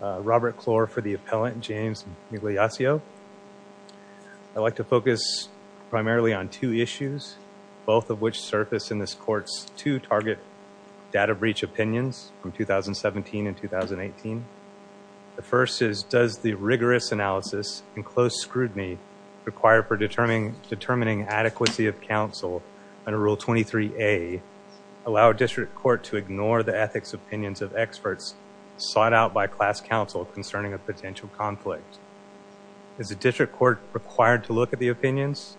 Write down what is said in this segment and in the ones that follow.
Robert Klor for the appellant James Migliaccio. I'd like to focus primarily on two issues, both of which surface in this court's two target data breach opinions from 2017 and 2018. The first is, does the rigorous analysis and close scrutiny required for determining adequacy of counsel under Rule 23a allow a district court to ignore the ethics opinions of experts sought out by class counsel concerning a potential conflict? Is the district court required to look at the opinions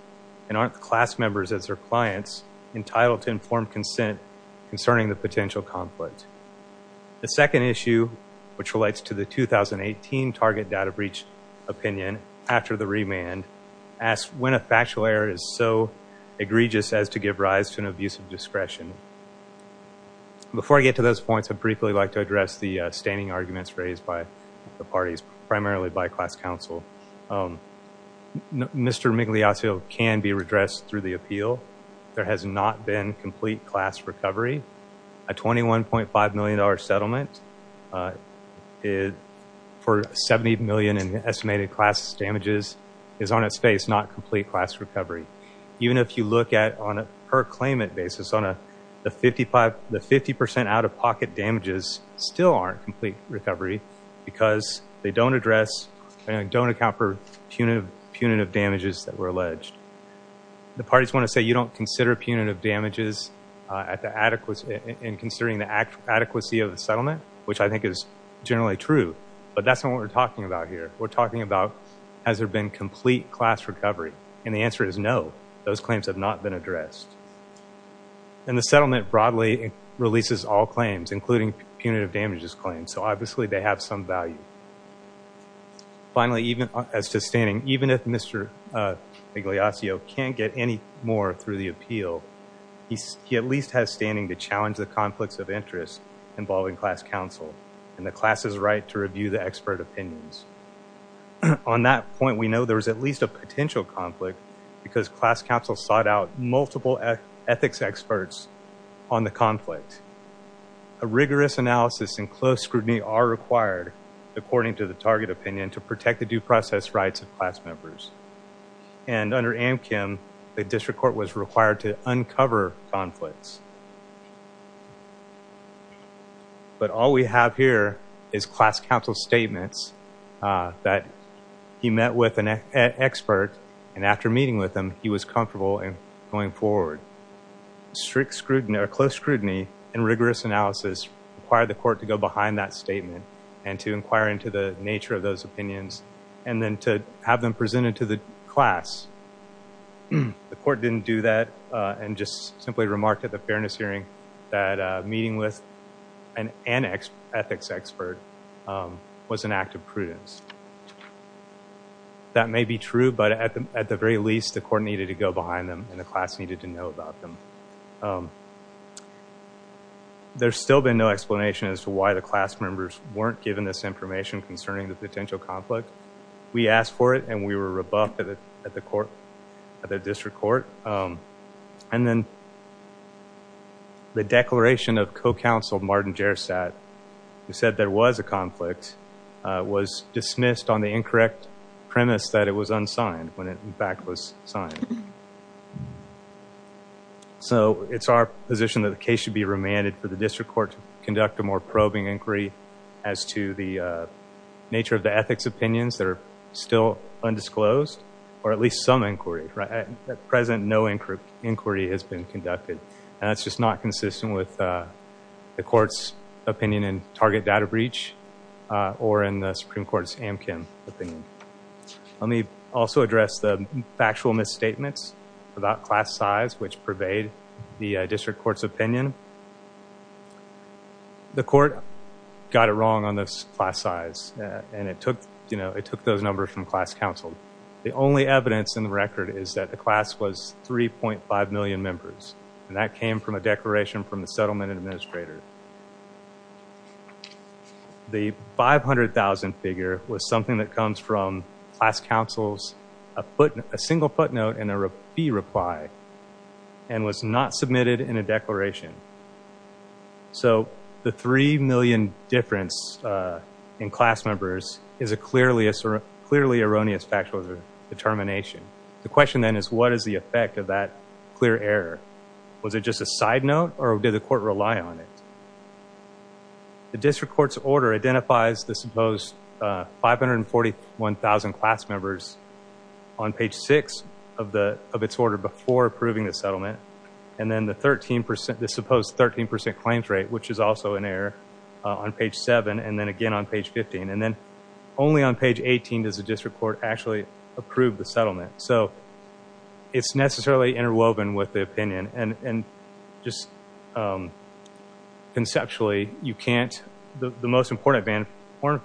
and aren't the class members as their clients entitled to informed consent concerning the potential conflict? The second issue, which relates to the 2018 target data breach opinion after the remand, asks when a factual error is so egregious as to give rise to an abuse of discretion. Before I get to those points, I'd briefly like to address the standing arguments raised by the parties, primarily by class counsel. Mr. Migliaccio can be redressed through the appeal. There has not been complete class recovery. A $21.5 million settlement for $70 million in estimated class damages is on its face, not complete class recovery. Even if you look at it on a per claimant basis, the 50% out-of-pocket damages still aren't complete recovery because they don't address and don't account for punitive damages that were alleged. The parties want to say you don't consider punitive damages in considering the adequacy of the settlement, which I think is generally true. But that's not what we're talking about here. We're talking about, has there been complete class recovery? And the answer is no, those claims have not been addressed. And the settlement broadly releases all claims, including punitive damages claims, so obviously they have some value. Finally, even as to standing, even if Mr. Migliaccio can't get any more through the appeal, he at least has standing to challenge the conflicts of interest involving class counsel and the class's right to review the expert opinions. On that point, we know there's at least a potential conflict because class counsel sought out multiple ethics experts on the conflict. A rigorous analysis and close scrutiny are required, according to the target opinion, to protect the due process rights of class members. And under AMCM, the district court was required to uncover conflicts. But all we have here is class counsel statements that he met with an expert, and after meeting with him, he was comfortable in going forward. Strict scrutiny or close scrutiny and rigorous analysis required the court to go behind that statement and to inquire into the nature of those opinions and then to have them presented to the class. The court didn't do that and just simply remarked at the fairness hearing that meeting with an ethics expert was an act of prudence. That may be true, but at the very least, the court needed to go behind them and the class needed to know about them. There's still been no explanation as to why the class members weren't given this information concerning the potential conflict. We asked for it and we were rebuffed at the court, at the district court. And then the declaration of co-counsel Martin Gersat, who said there was a conflict, was dismissed on the incorrect premise that it was unsigned when it in fact was signed. So it's our position that the case should be remanded for the district court to conduct a more probing inquiry as to the nature of the ethics opinions that are still undisclosed, or at least some inquiry. At present, no inquiry has been conducted. And that's just not consistent with the court's opinion in Target Data Breach or in the Supreme Court's Amkin opinion. Let me also address the factual misstatements about class size, which pervade the district court's opinion. The court got it wrong on this class size and it took, you know, it took those numbers from class counsel. The only evidence in the record is that the class was 3.5 million members. And that came from a declaration from the settlement administrator. The 500,000 figure was something that comes from class counsel's a single footnote and a fee reply and was not submitted in a declaration. So the 3 million difference in class members is a clearly erroneous factual determination. The question then is, what is the effect of that clear error? Was it just a side note or did the court rely on it? The district court's order identifies the supposed 541,000 class members on page 6 of its order before approving the settlement. And then the supposed 13% claims rate, which is also an error on page 7 and then again on page 15. And then only on page 18 does the district court actually approve the settlement. So it's necessarily interwoven with the opinion. And just conceptually, you can't, the most important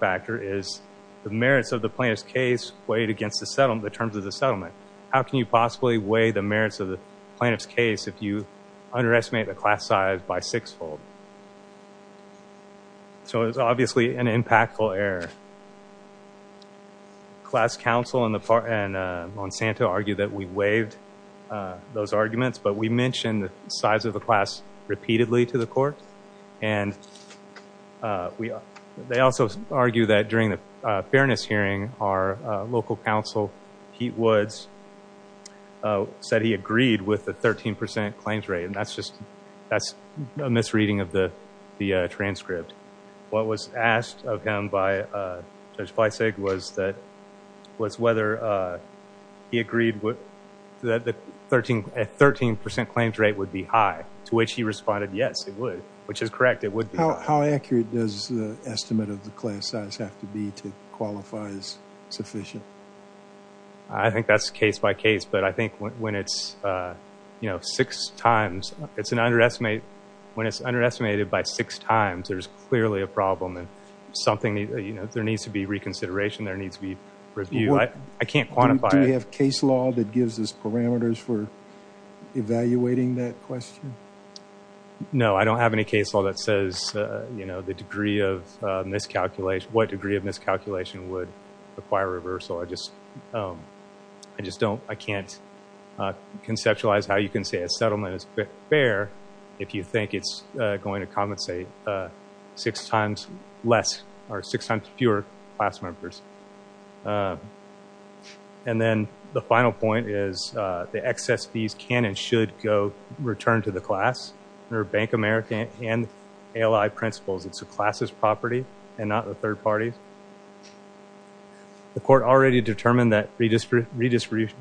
factor is the merits of the plaintiff's case weighed against the terms of the settlement. How can you possibly weigh the merits of the plaintiff's case if you underestimate the class size by sixfold? So it's obviously an impactful error. Class counsel and Monsanto argued that we waived those arguments, but we mentioned the size of the class repeatedly to the court. And they also argue that during the fairness hearing, our local counsel, Pete Woods, said he agreed with the 13% claims rate. And that's just, that's a misreading of the transcript. What was asked of him by Judge Fleisig was whether he agreed that the 13% claims rate would be high, to which he responded, yes, it would, which is correct. It would be. How accurate does the estimate of the class size have to be to qualify as sufficient? I think that's case by case. But I think when it's six times, it's an underestimate. When it's underestimated by six times, there's clearly a problem and there needs to be reconsideration. There needs to be review. I can't quantify it. Do we have case law that gives us parameters for evaluating that question? No, I don't have any case law that says the degree of miscalculation, what degree of miscalculation would require reversal. I just don't, I can't conceptualize how you can say a six times fewer class members. And then the final point is the excess fees can and should go return to the class under Bank of America and ALI principles. It's the class's property and not the third party's. The court already determined that redistribution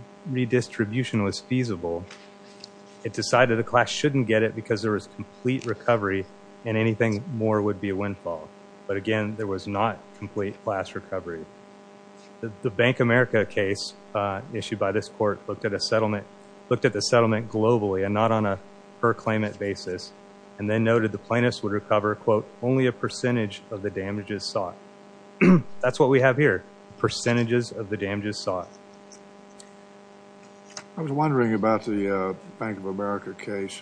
was feasible. It decided the class shouldn't get it because there was complete recovery and anything more would be a windfall. But again, there was not complete class recovery. The Bank of America case issued by this court looked at a settlement, looked at the settlement globally and not on a per claimant basis and then noted the plaintiffs would recover, quote, only a percentage of the damages sought. That's what we have here, percentages of the damages sought. I was wondering about the Bank of America case.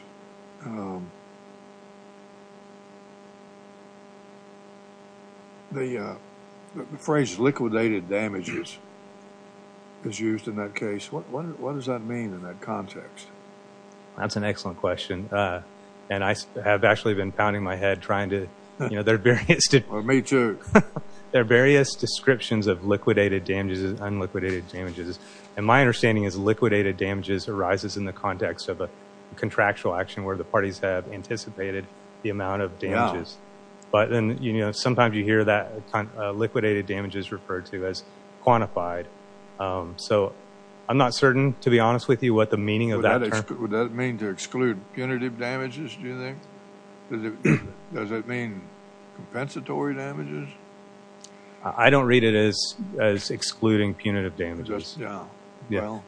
The phrase liquidated damages is used in that case. What does that mean in that context? That's an excellent question. And I have actually been pounding my head trying to, you know, there are various... Well, me too. There are various descriptions of liquidated damages and unliquidated damages. And my understanding is liquidated damages arises in the context of a contractual action where the parties have anticipated the amount of damages. But then, you know, sometimes you hear that liquidated damages referred to as quantified. So I'm not certain, to be honest with you, what the meaning of that term... Would that mean to exclude punitive damages, do you think? Does it mean compensatory damages? I don't read it as excluding punitive damages. Yeah. Well,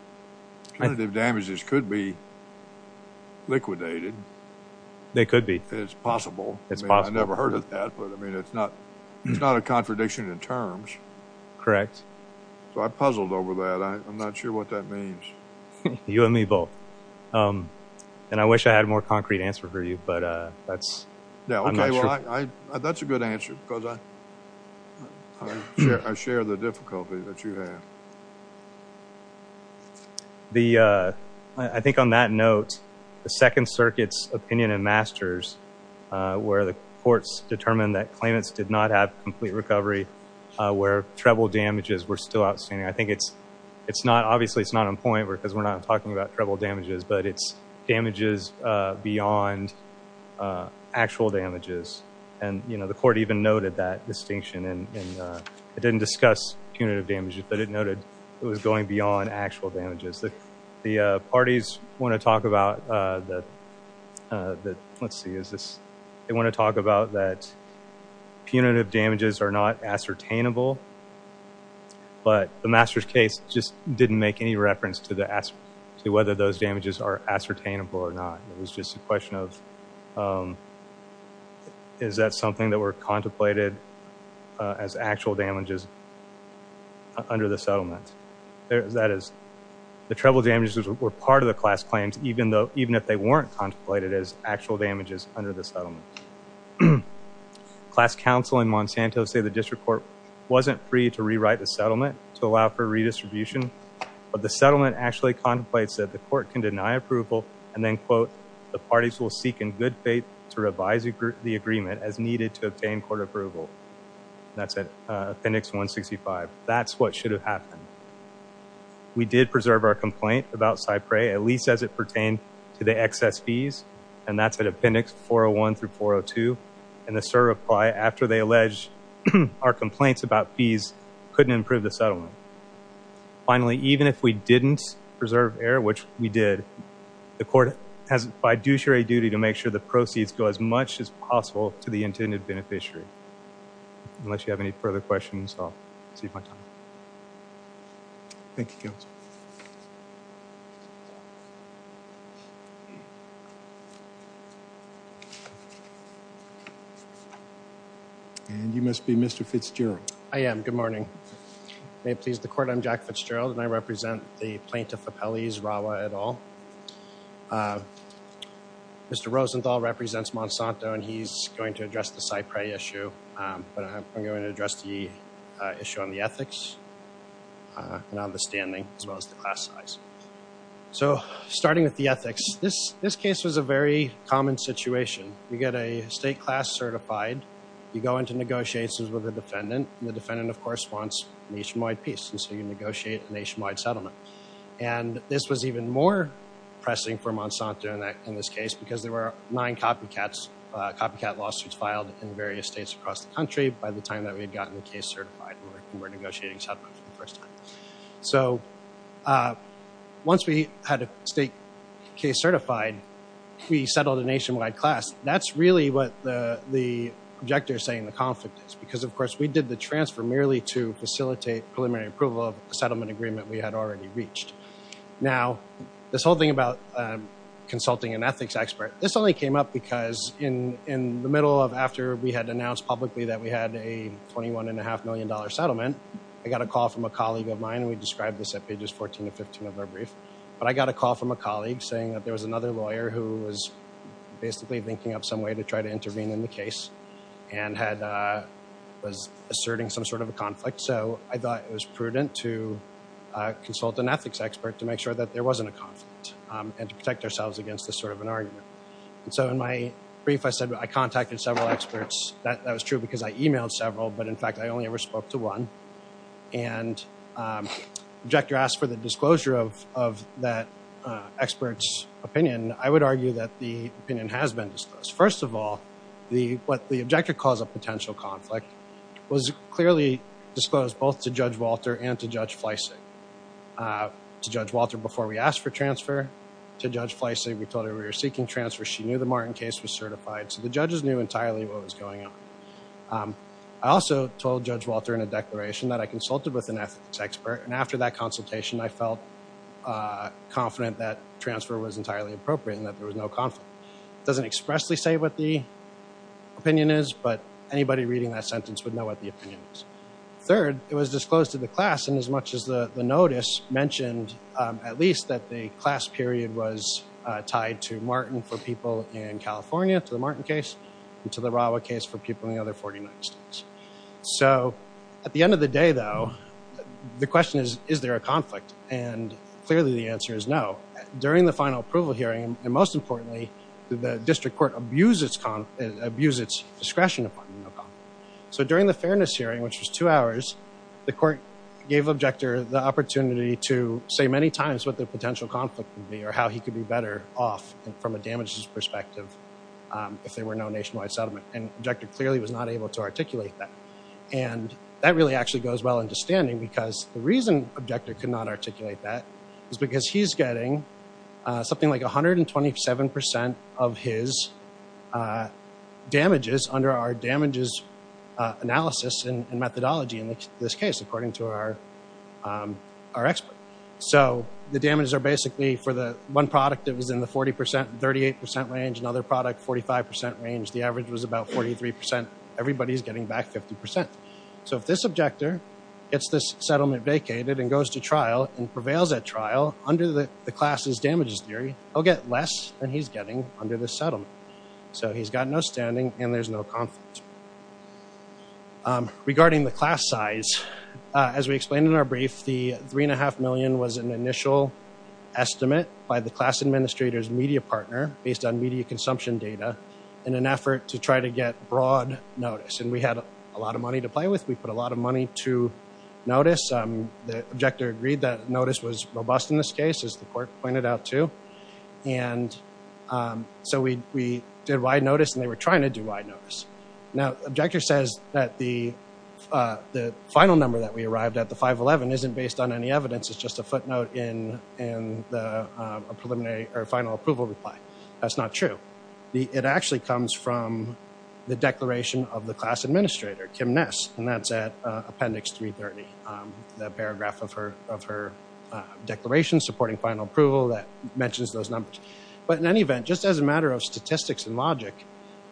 punitive damages could be liquidated. They could be. It's possible. It's possible. I never heard of that, but I mean, it's not a contradiction in terms. Correct. So I puzzled over that. I'm not sure what that means. You and me both. And I wish I had a more concrete answer for you, but that's... Yeah. Okay. Well, that's a good answer because I share the difficulty that you have. I think on that note, the Second Circuit's opinion in Masters, where the courts determined that claimants did not have complete recovery, where treble damages were still outstanding. It's not... Obviously, it's not on point because we're not talking about treble damages, but it's damages beyond actual damages. And the court even noted that distinction. And it didn't discuss punitive damages, but it noted it was going beyond actual damages. The parties want to talk about that... Let's see, is this... They want to talk about that Masters case just didn't make any reference to whether those damages are ascertainable or not. It was just a question of, is that something that were contemplated as actual damages under the settlement? That is, the treble damages were part of the class claims, even if they weren't contemplated as actual damages under the settlement. Class counsel in Monsanto say the district court wasn't free to rewrite the settlement to allow for redistribution, but the settlement actually contemplates that the court can deny approval and then, quote, the parties will seek in good faith to revise the agreement as needed to obtain court approval. That's at appendix 165. That's what should have happened. We did preserve our complaint about Cypre, at least as it pertained to the excess fees, and that's at appendix 401 through 402. And the SIR reply after they alleged our complaints about the settlement. Finally, even if we didn't preserve air, which we did, the court has by duty to make sure the proceeds go as much as possible to the intended beneficiary. Unless you have any further questions, I'll save my time. Thank you, counsel. And you must be Mr. Fitzgerald. I am. Good morning. May it please the court, I'm Jack Fitzgerald and I represent the Plaintiff Appellees, Rawa et al. Mr. Rosenthal represents Monsanto and he's going to address the Cypre issue, but I'm going to address the class size. So starting with the ethics, this case was a very common situation. You get a state class certified. You go into negotiations with the defendant. The defendant, of course, wants nationwide peace. And so you negotiate a nationwide settlement. And this was even more pressing for Monsanto in this case because there were nine copycat lawsuits filed in various states across the country by the time that we had gotten the case certified and were negotiating settlement for the first time. So once we had a state case certified, we settled a nationwide class. That's really what the projector is saying the conflict is because, of course, we did the transfer merely to facilitate preliminary approval of the settlement agreement we had already reached. Now, this whole thing about consulting an ethics expert, this only came up because in the middle of after we had announced publicly that we had a $21.5 million settlement, I got a call from a colleague of mine, and we described this at pages 14 to 15 of our brief, but I got a call from a colleague saying that there was another lawyer who was basically thinking of some way to try to intervene in the case and was asserting some sort of a conflict. So I thought it was prudent to consult an ethics expert to make sure that there wasn't a conflict and to protect ourselves against this sort of an argument. And so in my case, I contacted several experts. That was true because I emailed several, but in fact, I only ever spoke to one. And the objector asked for the disclosure of that expert's opinion. I would argue that the opinion has been disclosed. First of all, what the objector calls a potential conflict was clearly disclosed both to Judge Walter and to Judge Fleissig. To Judge Walter, before we asked for transfer, to Judge Fleissig, we told her we were seeking transfer. She knew the Martin case was certified, so the judges knew entirely what was going on. I also told Judge Walter in a declaration that I consulted with an ethics expert, and after that consultation, I felt confident that transfer was entirely appropriate and that there was no conflict. It doesn't expressly say what the opinion is, but anybody reading that sentence would know what the opinion is. Third, it was disclosed to the class, and as much as the notice mentioned at least that the case, and to the Rawa case for people in the other 49 states. So at the end of the day, though, the question is, is there a conflict? And clearly, the answer is no. During the final approval hearing, and most importantly, the district court abused its discretion upon no conflict. So during the fairness hearing, which was two hours, the court gave the objector the opportunity to say many times what the potential conflict would be or how he could be better off from a damages perspective if there were no nationwide settlement, and the objector clearly was not able to articulate that. And that really actually goes well into standing because the reason the objector could not articulate that is because he's getting something like 127% of his damages under our damages analysis and methodology in this case, according to our expert. So the damages are basically for the one product that was in the 40%, 38% range, another product, 45% range, the average was about 43%. Everybody's getting back 50%. So if this objector gets this settlement vacated and goes to trial and prevails at trial under the class's damages theory, he'll get less than he's getting under this settlement. So he's got no standing, and there's no conflict. Regarding the class size, as we explained in our brief, the 3.5 million was an initial estimate by the class administrator's media partner, based on media consumption data, in an effort to try to get broad notice. And we had a lot of money to play with. We put a lot of money to notice. The objector agreed that notice was robust in this case, as the court pointed out too. And so we did wide notice, and they were trying to do wide notice. Now, the objector says that the final number that we arrived at, the 511, isn't based on any evidence. It's just a footnote in the preliminary or final approval reply. That's not true. It actually comes from the declaration of the class administrator, Kim Ness, and that's at appendix 330, that paragraph of her declaration supporting final approval that mentions those numbers. But in any event, just as a matter of statistics and logic,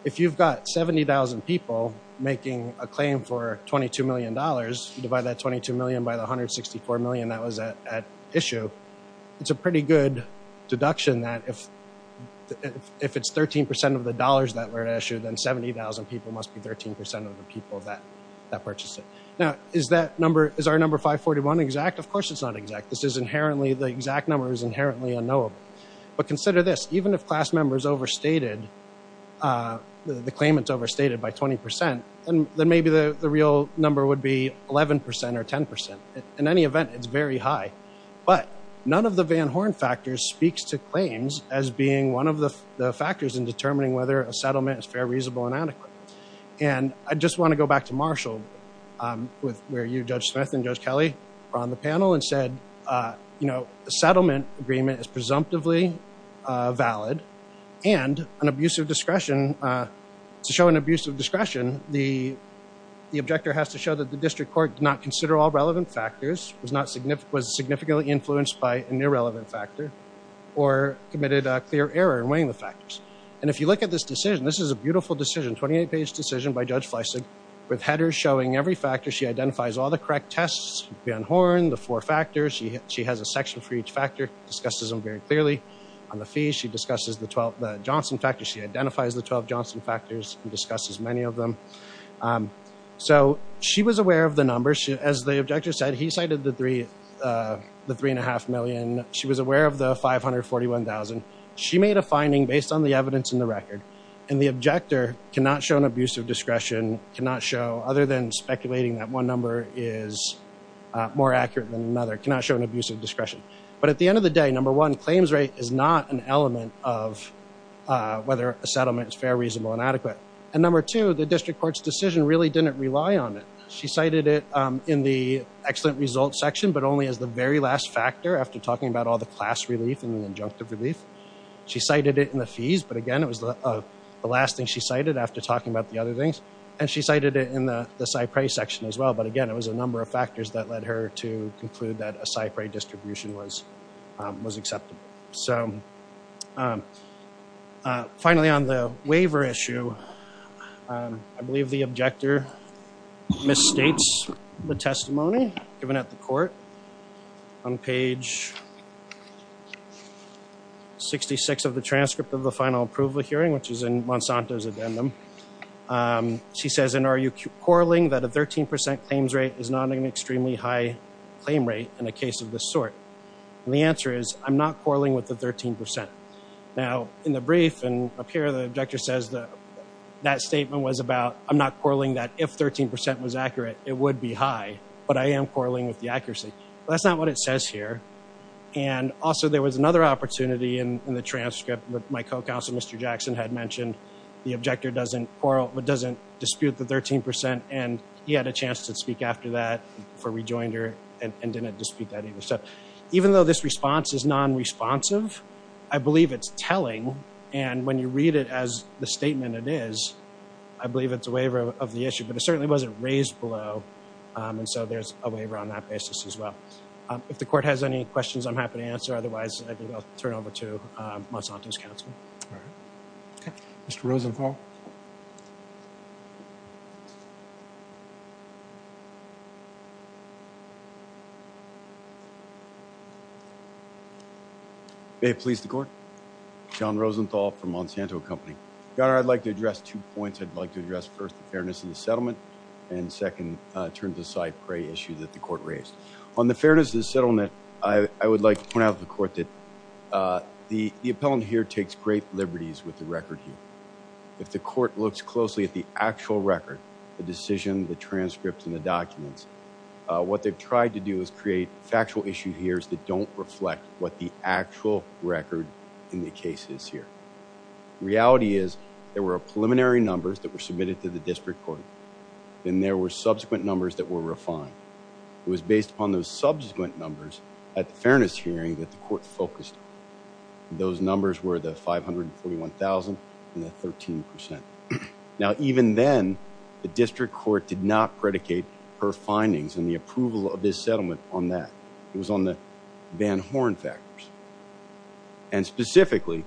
if you've got 70,000 people making a claim for $22 million, you divide that $22 million by the $164 million that was at issue, it's a pretty good deduction that if it's 13% of the dollars that were at issue, then 70,000 people must be 13% of the people that purchased it. Now, is our number 541 exact? Of course it's not exact. The exact number is inherently unknowable. But consider this, even if the claimant's overstated by 20%, then maybe the real number would be 11% or 10%. In any event, it's very high. But none of the Van Horn factors speaks to claims as being one of the factors in determining whether a settlement is fair, reasonable, and adequate. And I just want to go back to Marshall, where you, Judge Smith, and Judge Kelly were on the panel and said, you know, a settlement agreement is presumptively valid. And an abuse of discretion, to show an abuse of discretion, the objector has to show that the district court did not consider all relevant factors, was significantly influenced by an irrelevant factor, or committed a clear error in weighing the factors. And if you look at this decision, this is a beautiful decision, 28-page decision by Judge Smith, with headers showing every factor. She identifies all the correct tests, Van Horn, the four factors. She has a section for each factor, discusses them very clearly. On the fees, she discusses the Johnson factors. She identifies the 12 Johnson factors and discusses many of them. So she was aware of the numbers. As the objector said, he cited the 3.5 million. She was aware of the 541,000. She made a finding based on the evidence in the record. And the objector cannot show an abuse of discretion, cannot show, other than speculating that one number is more accurate than another, cannot show an abuse of discretion. But at the end of the day, number one, claims rate is not an element of whether a settlement is fair, reasonable, or inadequate. And number two, the district court's decision really didn't rely on it. She cited it in the excellent results section, but only as the very last factor after talking about all the class relief and the injunctive relief. She cited it in the fees, but again, the last thing she cited after talking about the other things. And she cited it in the SIPRI section as well. But again, it was a number of factors that led her to conclude that a SIPRI distribution was acceptable. So finally, on the waiver issue, I believe the objector misstates the testimony given at the court on page 66 of the transcript of the final approval hearing, which is in Monsanto's addendum. She says, and are you quarreling that a 13% claims rate is not an extremely high claim rate in a case of this sort? And the answer is, I'm not quarreling with the 13%. Now in the brief and up here, the objector says that statement was about, I'm not quarreling that if 13% was accurate, it would be high, but I am quarreling with the accuracy. That's not what it said. And also there was another opportunity in the transcript that my co-counsel, Mr. Jackson, had mentioned. The objector doesn't quarrel, but doesn't dispute the 13%. And he had a chance to speak after that before we joined her and didn't dispute that either. So even though this response is non-responsive, I believe it's telling. And when you read it as the statement it is, I believe it's a waiver of the issue, but it certainly wasn't raised below. And so there's a waiver on that basis as well. If the court has any questions, I'm happy to answer. Otherwise, I think I'll turn it over to Monsanto's counsel. All right. Okay. Mr. Rosenthal. May it please the court. John Rosenthal from Monsanto Company. Your Honor, I'd like to turn to the side prey issue that the court raised. On the fairness of the settlement, I would like to point out to the court that the appellant here takes great liberties with the record here. If the court looks closely at the actual record, the decision, the transcript, and the documents, what they've tried to do is create factual issue here that don't reflect what the actual record in the case is here. Reality is there were preliminary numbers that submitted to the district court. Then there were subsequent numbers that were refined. It was based upon those subsequent numbers at the fairness hearing that the court focused on. Those numbers were the 541,000 and the 13%. Now, even then the district court did not predicate her findings and the approval of this settlement on that. It was on the Van Horn factors. And specifically,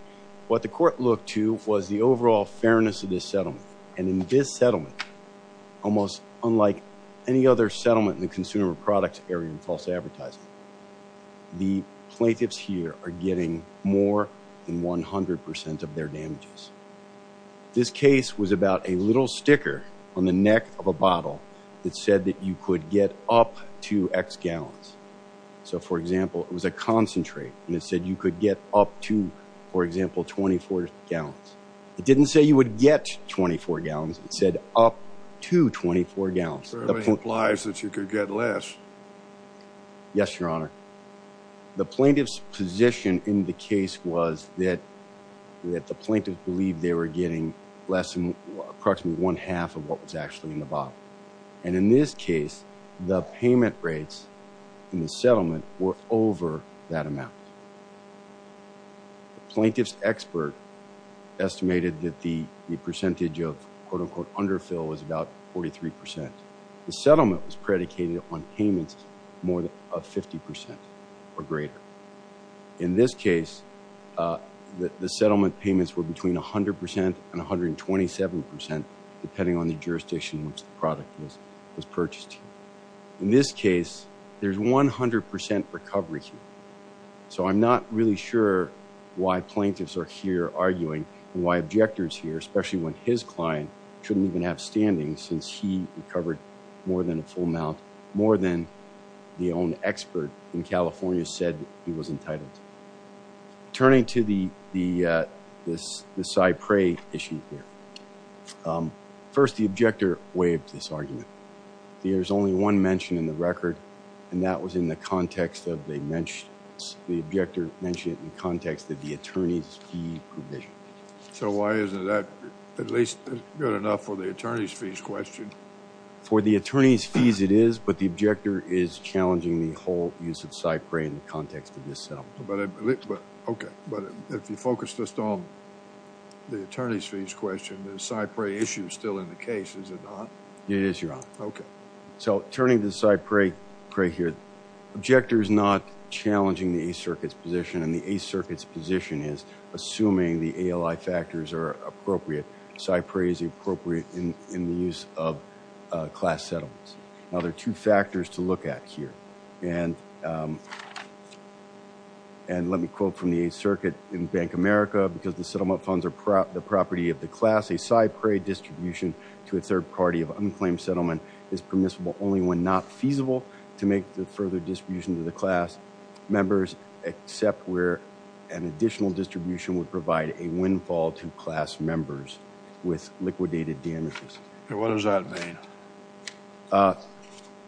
what the court looked to was the overall fairness of this settlement. And in this settlement, almost unlike any other settlement in the consumer products area in false advertising, the plaintiffs here are getting more than 100% of their damages. This case was about a little sticker on the neck of a bottle that said that you could get up to X gallons. So for example, it was a concentrate and it said you could get up to, for example, 24 gallons. It didn't say you would get 24 gallons. It said up to 24 gallons. So it implies that you could get less. Yes, your honor. The plaintiff's position in the case was that the plaintiff believed they were getting less than approximately one half of what was actually in the bottle. And in this case, the payment rates in the settlement were over that amount. The plaintiff's expert estimated that the percentage of quote-unquote underfill was about 43%. The settlement was predicated on payments more of 50% or greater. In this case, the settlement payments were between 100% and 127%, depending on the jurisdiction in which product was purchased. In this case, there's 100% recovery here. So I'm not really sure why plaintiffs are here arguing and why objectors here, especially when his client shouldn't even have standing since he recovered more than a full amount, more than the own expert in California said he was entitled. Turning to the Cypre issue here. First, the objector waived this argument. There's only one mention in the record, and that was in the context of they mentioned, the objector mentioned it in the context of the attorney's fee provision. So why isn't that at least good enough for the attorney's fees question? For the attorney's fees it is, but the objector is challenging the whole use of Cypre in the context of this settlement. But okay, but if you focus just on the attorney's fees question, the Cypre issue is still in the case, is it not? It is, Your Honor. Okay. So turning to the Cypre here, the objector is not challenging the Eighth Circuit's position, and the Eighth Circuit's position is, assuming the ALI factors are appropriate, Cypre is appropriate in the use of class settlements. Now, there are two factors to look at here, and let me quote from the Eighth Circuit in Bank America, because the third party of unclaimed settlement is permissible only when not feasible to make the further distribution to the class members, except where an additional distribution would provide a windfall to class members with liquidated damages. What does that mean?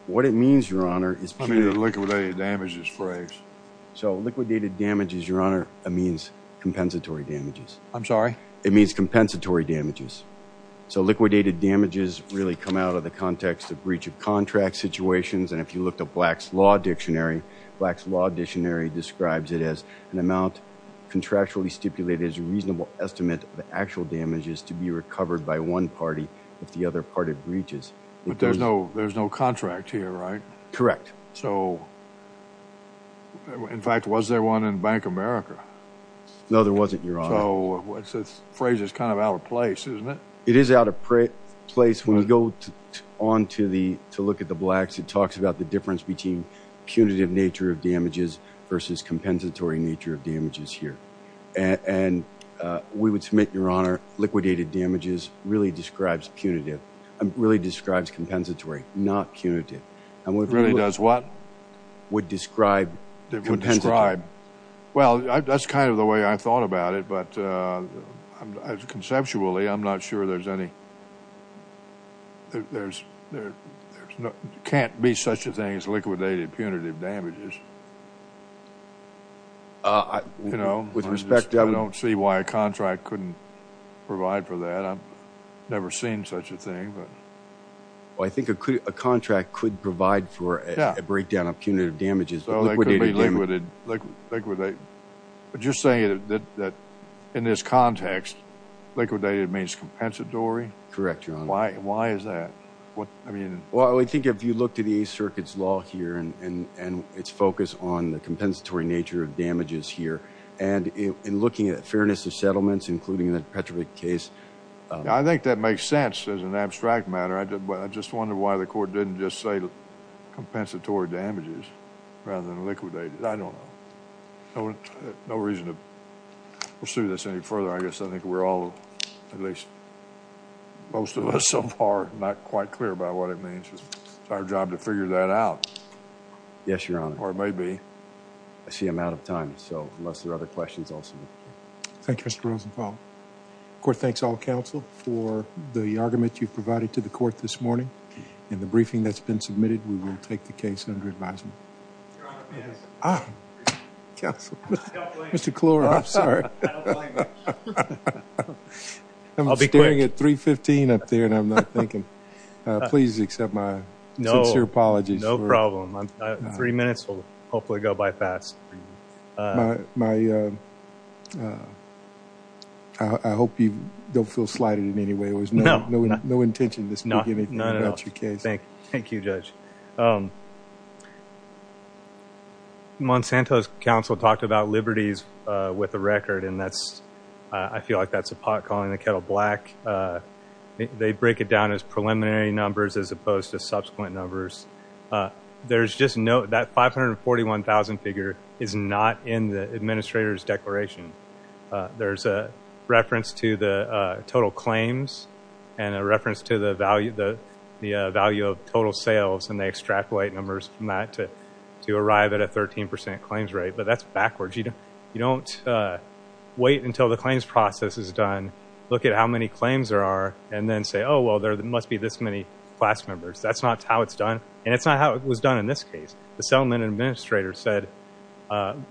What it means, Your Honor, is- I mean the liquidated damages phrase. So liquidated damages, Your Honor, means compensatory damages. I'm sorry? It means compensatory damages. So liquidated damages really come out of the context of breach of contract situations, and if you look at Black's Law Dictionary, Black's Law Dictionary describes it as an amount contractually stipulated as a reasonable estimate of actual damages to be recovered by one party if the other party breaches. But there's no contract here, right? Correct. So in fact, was there one in Bank America? No, there wasn't, Your Honor. So the phrase is kind of out of place, isn't it? It is out of place. When you go on to look at the Blacks, it talks about the difference between punitive nature of damages versus compensatory nature of damages here. And we would submit, Your Honor, liquidated damages really describes punitive- really describes compensatory, not punitive. It really does what? Would describe compensatory. Well, that's kind of the way I thought about it, but conceptually, I'm not sure there's any- there can't be such a thing as liquidated punitive damages. I don't see why a contract couldn't provide for that. I've a contract could provide for a breakdown of punitive damages. So they could be liquidated. But you're saying that in this context, liquidated means compensatory? Correct, Your Honor. Why is that? Well, I think if you look to the Eighth Circuit's law here and its focus on the compensatory nature of damages here, and in looking at fairness of settlements, including the Petrovic case- I think that makes sense as an abstract matter. I just wonder why the court didn't just say compensatory damages rather than liquidated. I don't know. No reason to pursue this any further. I guess I think we're all, at least most of us so far, not quite clear about what it means. It's our job to figure that out. Yes, Your Honor. Or maybe. I see I'm out of time, so unless there are other questions also. Thank you, Mr. Rosenthal. Court thanks all counsel for the argument you've provided to the court this morning. In the briefing that's been submitted, we will take the case under advisement. Ah, counsel. Mr. Klor, I'm sorry. I'm staring at 315 up there and I'm not thinking. Please accept my sincere apologies. No problem. Three minutes will hopefully go by fast. My, I hope you don't feel slighted in any way. It was no intention this beginning. No, no, no. Not your case. Thank you, Judge. Monsanto's counsel talked about liberties with the record and that's, I feel like that's a pot calling the kettle black. They break it down as preliminary numbers as opposed to subsequent numbers. There's just no, that 541,000 figure is not in the administrator's declaration. There's a reference to the total claims and a reference to the value of total sales and they extrapolate numbers from that to arrive at a 13% claims rate, but that's backwards. You don't wait until the claims process is done, look at how many claims there are, and then say, well, there must be this many class members. That's not how it's done and it's not how it was done in this case. The settlement administrator said,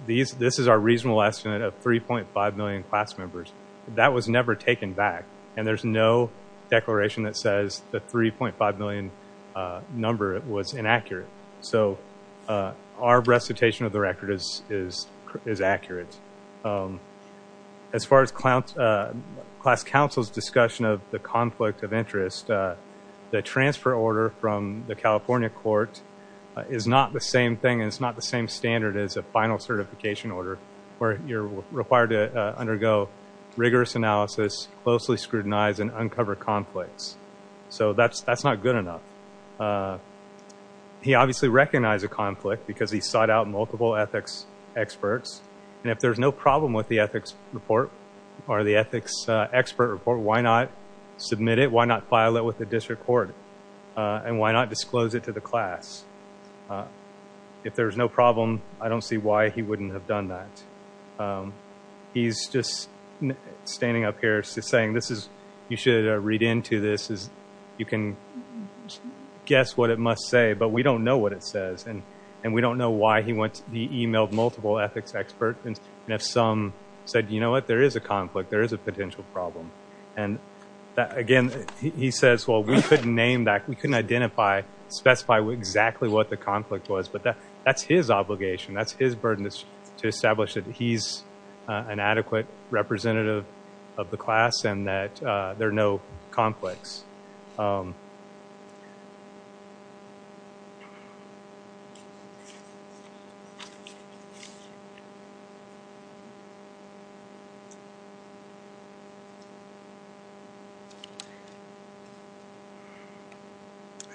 this is our reasonable estimate of 3.5 million class members. That was never taken back and there's no declaration that says the 3.5 million number was inaccurate. So our recitation of the record is accurate. As far as class counsel's discussion of the conflict of interest, the transfer order from the California court is not the same thing and it's not the same standard as a final certification order where you're required to undergo rigorous analysis, closely scrutinize, and uncover conflicts. So that's not good enough. He obviously recognized a conflict because he sought out multiple ethics experts, and if there's no problem with the ethics report or the ethics expert report, why not submit it? Why not file it with the district court? And why not disclose it to the class? If there's no problem, I don't see why he wouldn't have done that. He's just standing up here saying, you should read into this. You can guess what it must say, but we don't know what it says. And we don't know why he emailed multiple ethics experts and if some said, you know what, there is a conflict. There is a potential problem. And again, he says, well, we couldn't name that. We couldn't identify, specify exactly what the conflict was. But that's his obligation. That's his burden to establish that he's an adequate representative of the class and that there are no conflicts. I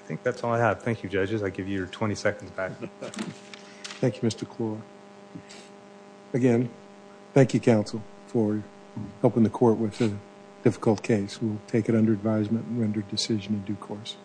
think that's all I have. Thank you, judges. I give you your 20 seconds back. Thank you, Mr. Clore. Again, thank you, counsel, for helping the court with a difficult case. We'll take it under advisement and render decision in due course.